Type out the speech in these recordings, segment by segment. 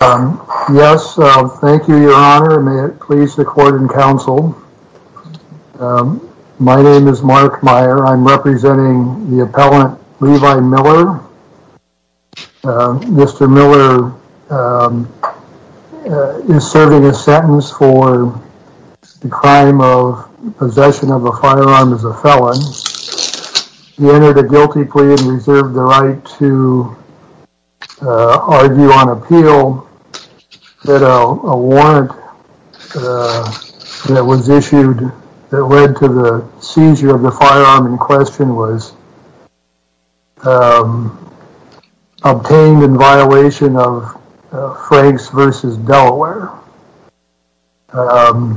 Yes, thank you, Your Honor. May it please the court and counsel. My name is Mark Meyer. I'm representing the appellant Levi Miller. Mr. Miller is serving a sentence for the crime of possession of a firearm as a felon. He entered a guilty plea and reserved the right to argue on appeal that a warrant that was issued that led to the seizure of the firearm in question was obtained in violation of Franks v. Delaware. Franks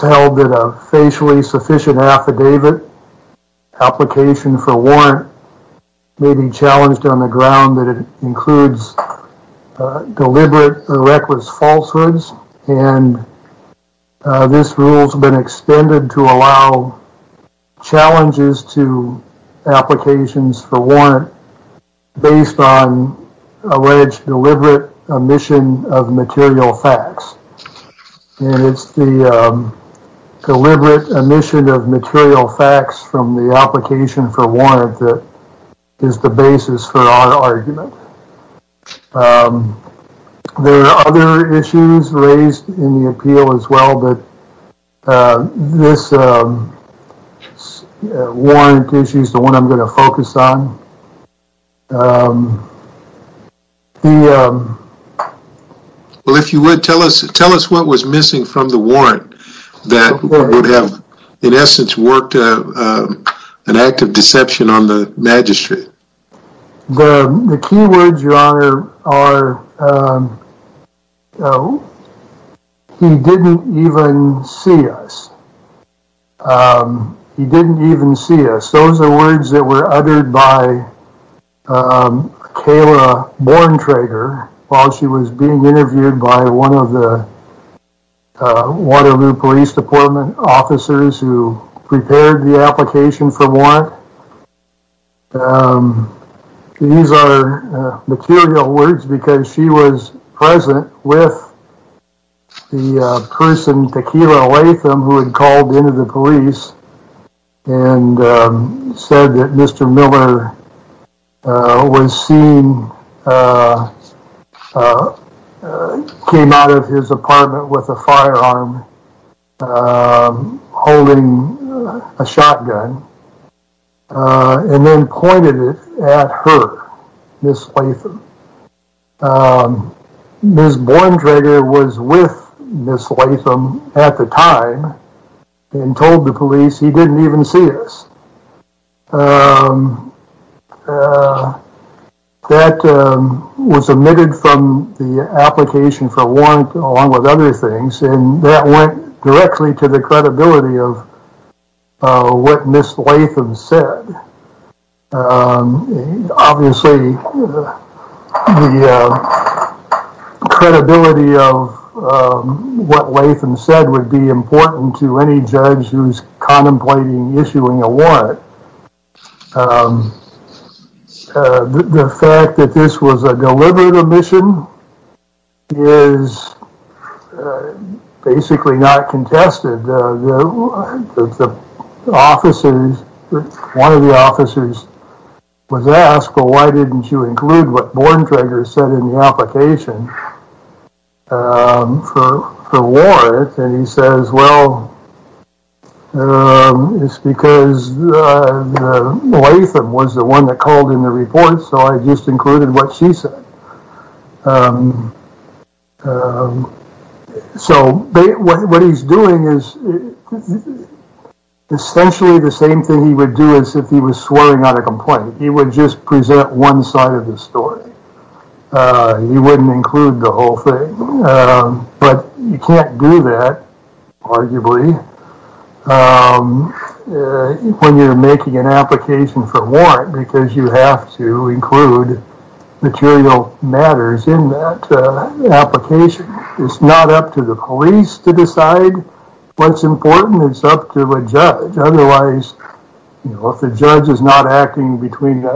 held that a facially sufficient affidavit application for warrant may be challenged on the ground that it includes deliberate or reckless falsehoods. And this rule has been extended to allow challenges to applications for warrant based on alleged deliberate omission of material facts. And it's the deliberate omission of material facts from the application for warrant that is the basis for our argument. There are other issues raised in the appeal as well, but this warrant issue is the one I'm going to focus on. Well, if you would, tell us what was missing from the warrant that would have in essence worked an act of deception on the magistrate. The key words, Your Honor, are he didn't even see us. He didn't even see us. Those are words that were uttered by Kayla Borentrager while she was being interviewed by one of the Waterloo Police Department officers who prepared the application for warrant. These are material words because she was present with the person Tequila Latham who had called into the police office and said that Mr. Miller was seen, came out of his apartment with a firearm holding a shotgun and then pointed it at her, Ms. Latham. Ms. Borentrager was with Ms. Latham at the time and told the police he didn't even see us. That was omitted from the application for warrant along with other things and that went directly to the credibility of what Ms. Latham said would be important to any judge who's contemplating issuing a warrant. The fact that this was a deliberate omission is basically not contested. One of the officers was asked, well, why didn't you include what Borentrager said in the application for warrant? And he says, well, it's because Latham was the one that called in the report so I just included what she said. So what he's doing is essentially the same thing he would do if he was swearing on a complaint. He would just present one side of the story. He wouldn't include the whole thing. But you can't do that, arguably, when you're making an application for warrant because you have to include material matters in that application. It's not up to the judge. If the judge is not acting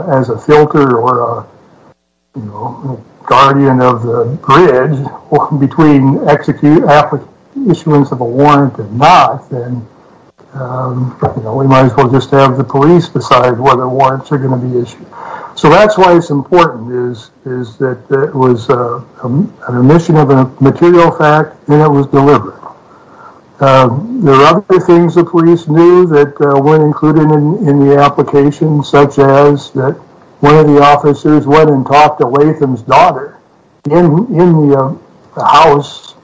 as a filter or a guardian of the bridge between issuance of a warrant and not, then we might as well just have the police decide whether warrants are going to be issued. So that's why it's important is that it was an omission of a material fact and it was deliberate. There are other things the police knew that included in the application, such as that one of the officers went and talked to Latham's daughter in the house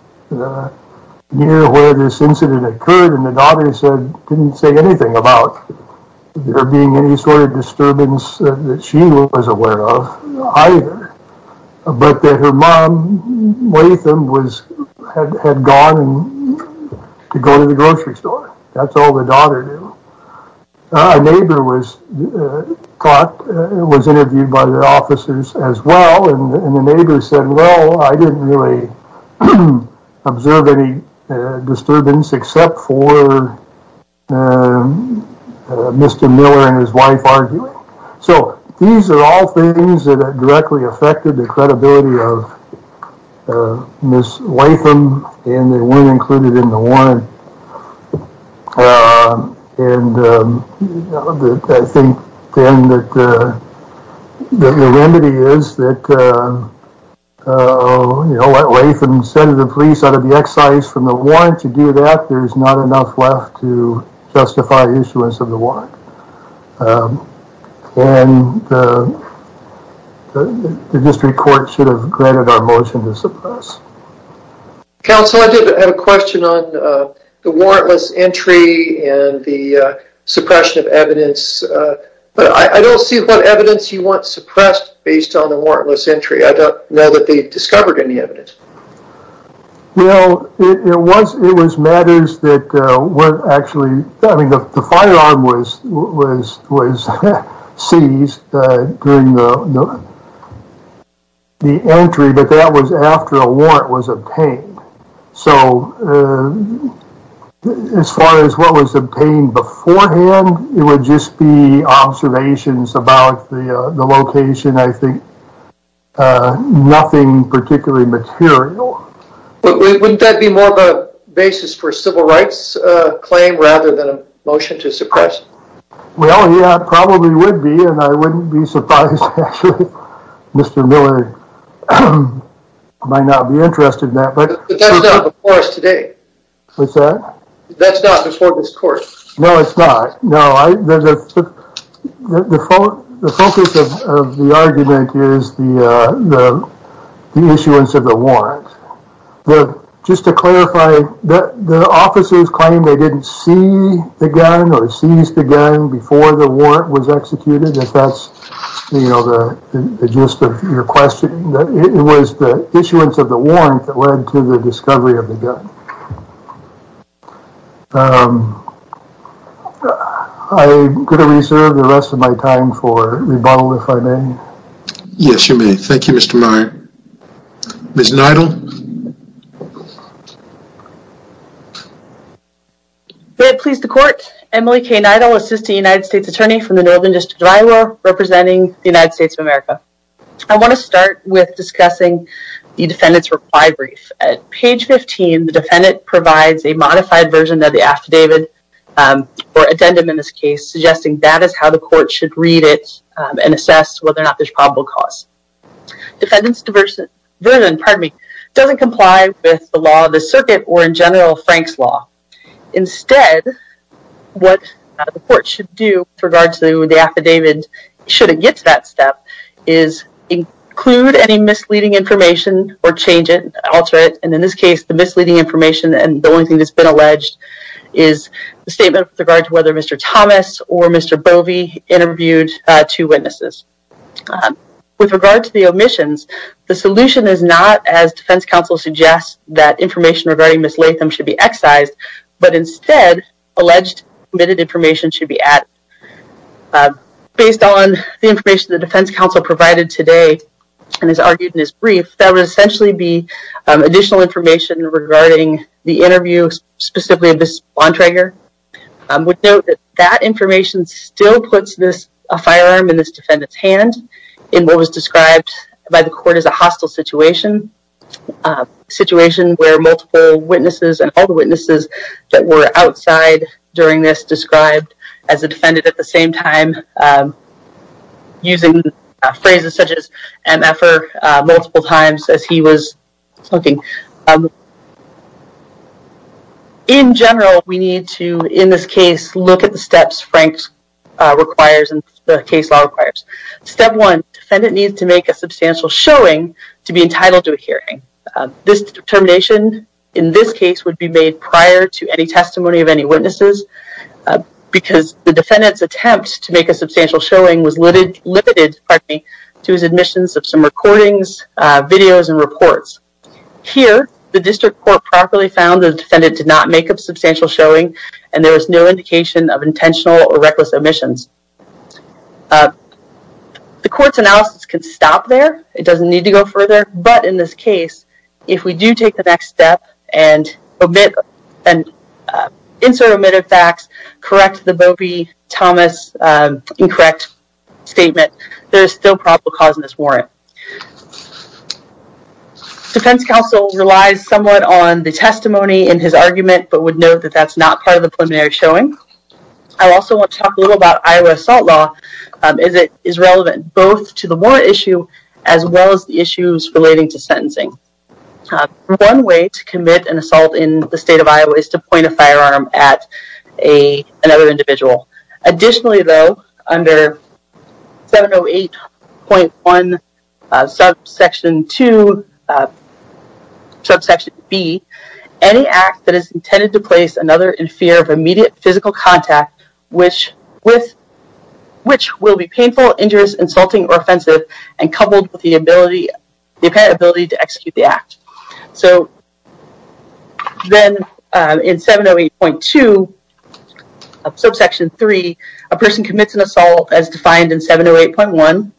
near where this incident occurred and the daughter didn't say anything about there being any sort of disturbance that she was aware of either, but that her mom, Latham, had gone to go to the grocery store. That's all the daughter knew. A neighbor was interviewed by the officers as well, and the neighbor said, well, I didn't really observe any disturbance except for Mr. Miller and his wife arguing. So these are all things that directly affected the credibility of Ms. Latham, and they weren't included in the warrant. I think then that the remedy is that Latham sent the police out of the excise from the warrant to do that. There's not enough left to justify issuance of the warrant. The district court should have granted our motion to suppress. Counsel, I did have a question on the warrantless entry and the suppression of evidence, but I don't see what evidence you want suppressed based on the warrantless entry. I don't know that they discovered any evidence. Well, it was matters that were actually, I mean, the firearm was seized during the entry, but that was after a warrant was obtained. So as far as what was obtained beforehand, it would just be observations about the location. I think nothing particularly material. But wouldn't that be more of a basis for a civil rights claim rather than a motion to suppress? Well, yeah, it probably would be, and I wouldn't be surprised if Mr. Miller might not be interested in that. But that's not before us today. What's that? That's not before this court. No, it's not. No, the focus of the argument is the issuance of the warrant. But just to clarify, the officers claim they didn't see the gun or seize the gun before the warrant was executed. If that's the gist of your question, it was the issuance of the warrant that led to the discovery of the gun. I'm going to reserve the rest of my time for rebuttal, if I may. Yes, you may. Thank you, Mr. Meyer. Ms. Neidel. May it please the court, Emily K. Neidel, Assistant United States Attorney from the Northern District of Iowa, representing the United States of America. I want to start with discussing the defendant's reply brief. At page 15, the defendant provides a modified version of the affidavit or addendum in this case, suggesting that is how the court should read it and assess whether or not there's probable cause. Defendant's version, pardon me, doesn't comply with the law of the circuit or in general Frank's law. Instead, what the court should do with regard to the affidavit, should it get to that step, is include any misleading information or change it, alter it. And in this case, the misleading information and the only thing that's been alleged is the statement with regard to whether Mr. Thomas or Mr. Bovey interviewed two witnesses. With regard to the omissions, the solution is not, as defense counsel suggests, that information regarding Ms. Latham should be excised, but instead, alleged omitted information should be added. Based on the information the defense counsel provided today and is argued in this brief, that would essentially be additional information regarding the interview specifically of Ms. Bontrager. I would note that that information still puts a firearm in this defendant's hand in what was described by the court as a hostile situation. A situation where multiple witnesses and all the witnesses that were outside during this described as a defendant at the same time using phrases such as MFR multiple times as he was looking. In general, we need to, in this case, look at the steps Frank requires and the case law requires. Step one, defendant needs to make a substantial showing to be entitled to a hearing. This determination in this case would be made prior to any testimony of any witnesses because the defendant's attempt to make a substantial showing was limited to his admissions of some recordings, videos, and reports. Here, the district court properly found the defendant did not make a substantial showing and there was no indication of intentional or reckless omissions. The court's analysis can stop there. It doesn't need to go further, but in this case, if we do take the next step and omit and insert omitted facts, correct the Bobie-Thomas incorrect statement, there is still probable cause in this warrant. Defense counsel relies somewhat on the testimony in his argument, but would note that that's not part of the preliminary showing. I also want to talk a little about Iowa assault law as it is relevant both to the warrant issue as well as the issues relating to sentencing. One way to commit an assault in the state of Iowa is to point a firearm at another individual. Additionally though, under 708.1 subsection 2, subsection b, any act that is intended to place another in fear of immediate physical contact which will be painful, injurious, insulting, or offensive and coupled with the ability to execute the act. So then in 708.2 subsection 3, a person commits an assault as defined in 708.1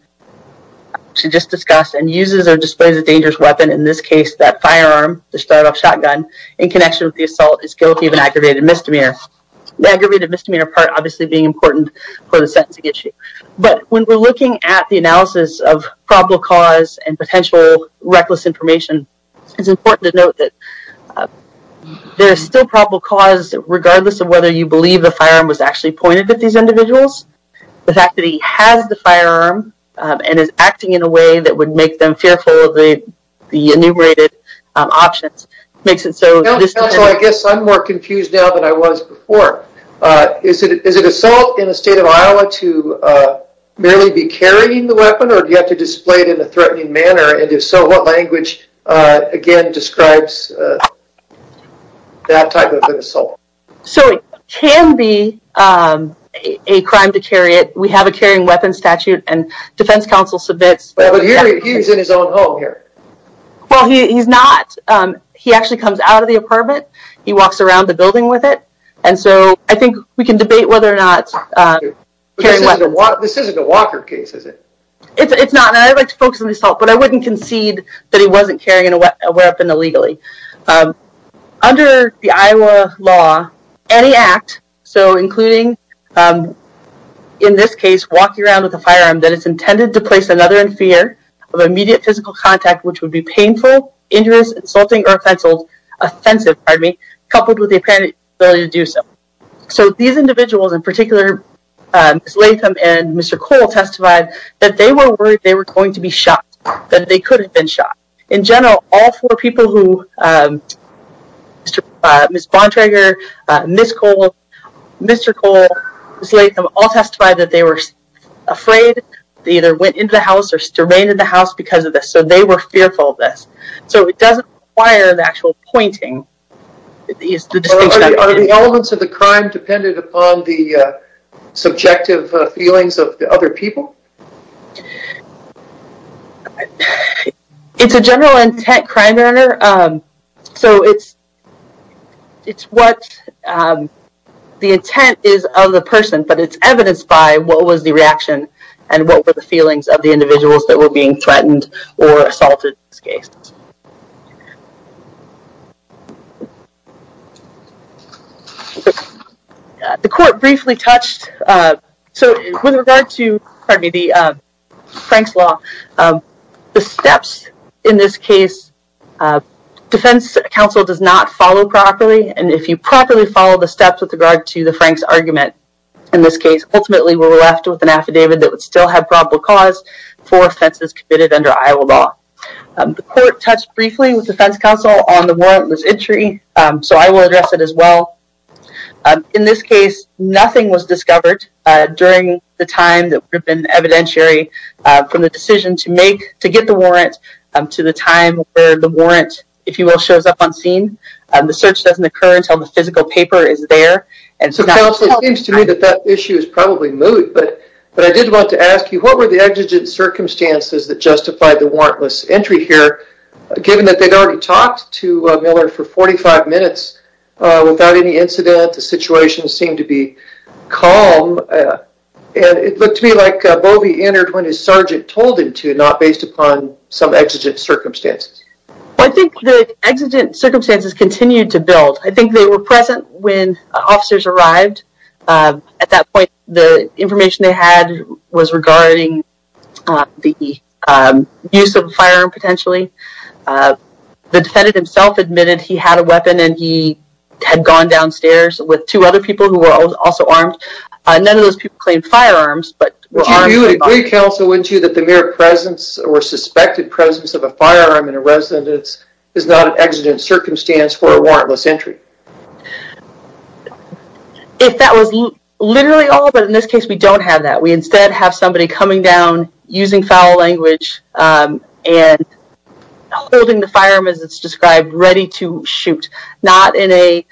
to just discuss and uses or displays a dangerous weapon, in this case that firearm, the start-off shotgun, in connection with the assault is guilty of an aggravated misdemeanor. The aggravated misdemeanor part obviously being important for the sentencing issue, but when we're looking at the analysis of probable cause and potential reckless information, it's important to note that there's still probable cause regardless of whether you believe the firearm was actually pointed at these individuals. The fact that he has the firearm and is acting in a way that would make them fearful of the enumerated options makes it so. I guess I'm more confused now than I was before. Is it assault in the state of Iowa to merely be carrying the weapon or do you have to display it in a threatening manner and if so, what language again describes that type of assault? So it can be a crime to carry it. We have a carrying weapons statute and defense counsel submits. But he's in his own home here. Well he's not. He actually comes out of the apartment. He walks around the building with it and so I think we can debate whether or not. This isn't a Walker case is it? It's not and I'd like to focus on the assault, but I wouldn't concede that he wasn't carrying a weapon illegally. Under the Iowa law, any act, so including in this case walking around with a firearm, that it's intended to place another in fear of immediate physical contact which would be painful, injurious, insulting, or offensive coupled with the apparent ability to do so. So these individuals in particular, Ms. Latham and Mr. Cole testified that they were worried they were going to be shot. That they could have been shot. In general, all four people who, Ms. Bontrager, Ms. Cole, Mr. Cole, Ms. Latham, all testified that they were afraid they either went into the house or remained in the house because of this. So they were fearful of this. So it doesn't require the actual pointing. Are the elements of the crime dependent upon the subjective feelings of the people? It's a general intent crime. So it's what the intent is of the person, but it's evidenced by what was the reaction and what were the feelings of the individuals that were being pardon me, the Frank's law. The steps in this case, defense counsel does not follow properly, and if you properly follow the steps with regard to the Frank's argument in this case, ultimately we're left with an affidavit that would still have probable cause for offenses committed under Iowa law. The court touched briefly with defense counsel on the warrantless entry, so I will address it as well. In this case, nothing was discovered during the time that would have been evidentiary from the decision to make, to get the warrant, to the time where the warrant, if you will, shows up on scene. The search doesn't occur until the physical paper is there. So counsel, it seems to me that that issue is probably moved, but I did want to ask you, what were the exigent circumstances that justified the warrantless entry here, given that they'd already talked to Miller for 45 minutes without any incident, the situation seemed to be calm, and it looked to me like Bovey entered when his sergeant told him to, not based upon some exigent circumstances. Well, I think the exigent circumstances continued to build. I think they were present when officers arrived. At that point, the information they had was regarding the use of a firearm, potentially. The defendant himself admitted he had a weapon and he had gone downstairs with two other people who were also armed. None of those people claimed firearms, but were armed. Would you agree, counsel, wouldn't you, that the mere presence or suspected presence of a firearm in a residence is not an exigent circumstance for a warrantless entry? If that was literally all, but in this case we don't have that. We instead have somebody coming down, using foul language, and holding the firearm as it's described, ready to shoot, not in a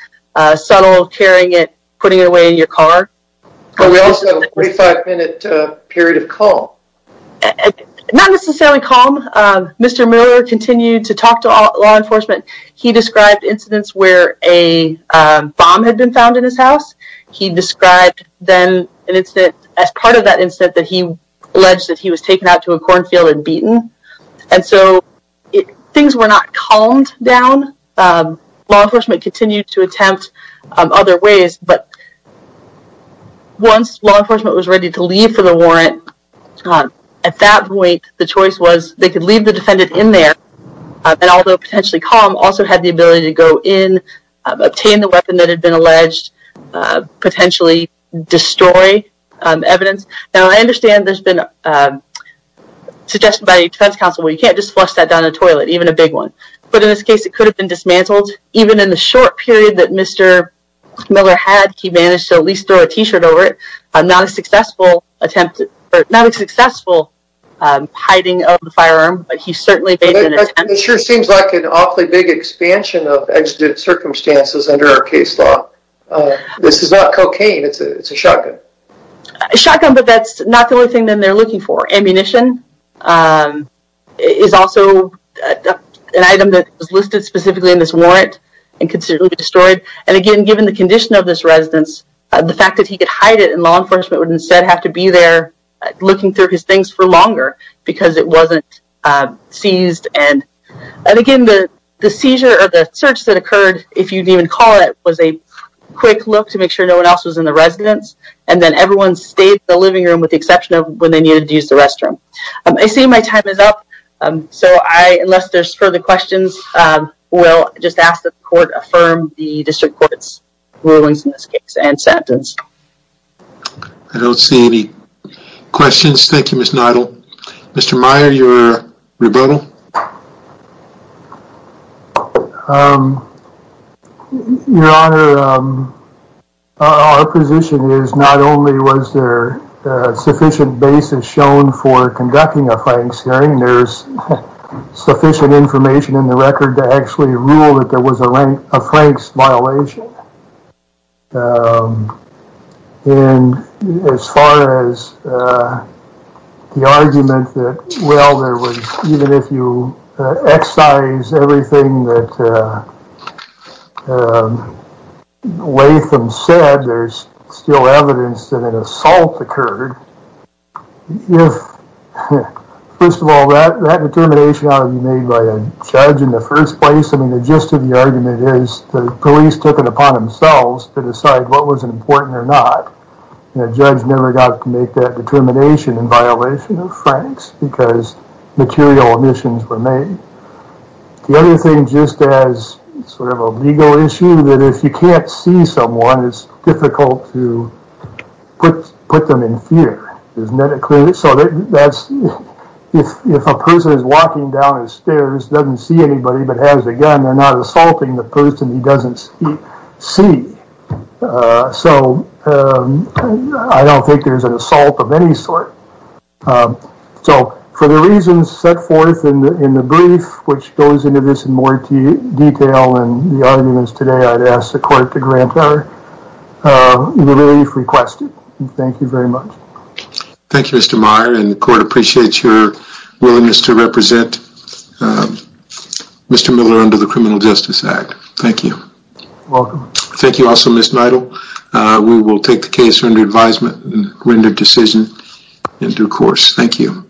subtle carrying it, putting it away in your car. But we also have a 45-minute period of calm. Not necessarily calm. Mr. Miller continued to talk to law enforcement. He described incidents where a bomb had been found in his house. He described then an incident, as part of that incident, that he alleged that he was taken out to a cornfield and beaten. Things were not calmed down. Law enforcement continued to attempt other ways, but once law enforcement was ready to leave for the warrant, at that point, the choice was they could leave the defendant in there, and although potentially calm, also had the ability to go in, obtain the weapon that had been alleged, potentially destroy evidence. Now I understand there's been a suggestion by defense counsel, well you can't just flush that down the toilet, even a big one. But in this case it could have been dismantled. Even in the short period that Mr. Miller had, he managed to at least throw a t-shirt over it. Not a successful attempt, not a successful hiding of the firearm, but he certainly made an attempt. It sure seems like an awfully big expansion of exigent circumstances under our case law. This is not cocaine, it's a shotgun. A shotgun, but that's not the only thing that they're looking for. Ammunition is also an item that was listed specifically in this warrant and could certainly be destroyed. And again, given the condition of this residence, the fact that he could hide it and law enforcement would instead have to be there looking through his things for longer because it wasn't seized. And again, the seizure or the search that occurred, if you'd even call it, was a quick look to make sure no one else was in the residence and then everyone stayed in the living room with the exception of when they needed to use the restroom. I see my time is up, so I, unless there's further questions, will just ask that the court affirm the district court's rulings in this case and sentence. I don't see any questions, thank you, Ms. Neidel. Mr. Meyer, your rebuttal. Your Honor, our position is not only was there sufficient basis shown for conducting a Frank's hearing, there's sufficient information in the argument that, well, even if you excise everything that Latham said, there's still evidence that an assault occurred. First of all, that determination ought to be made by a judge in the first place. I mean, the gist of the argument is the police took it upon themselves to decide what was important or not. And a judge never got to make that violation of Frank's because material omissions were made. The other thing, just as sort of a legal issue, that if you can't see someone, it's difficult to put them in fear. If a person is walking down the stairs, doesn't see anybody, but has a gun, they're not assaulting the person he doesn't see. So I don't think there's an assault of any sort. So for the reasons set forth in the brief, which goes into this in more detail and the arguments today, I'd ask the court to grant our relief requested. Thank you very much. Thank you, Mr. Meyer, and the court appreciates your Mr. Miller under the Criminal Justice Act. Thank you. Thank you also, Ms. Neidl. We will take the case under advisement and render decision in due course. Thank you.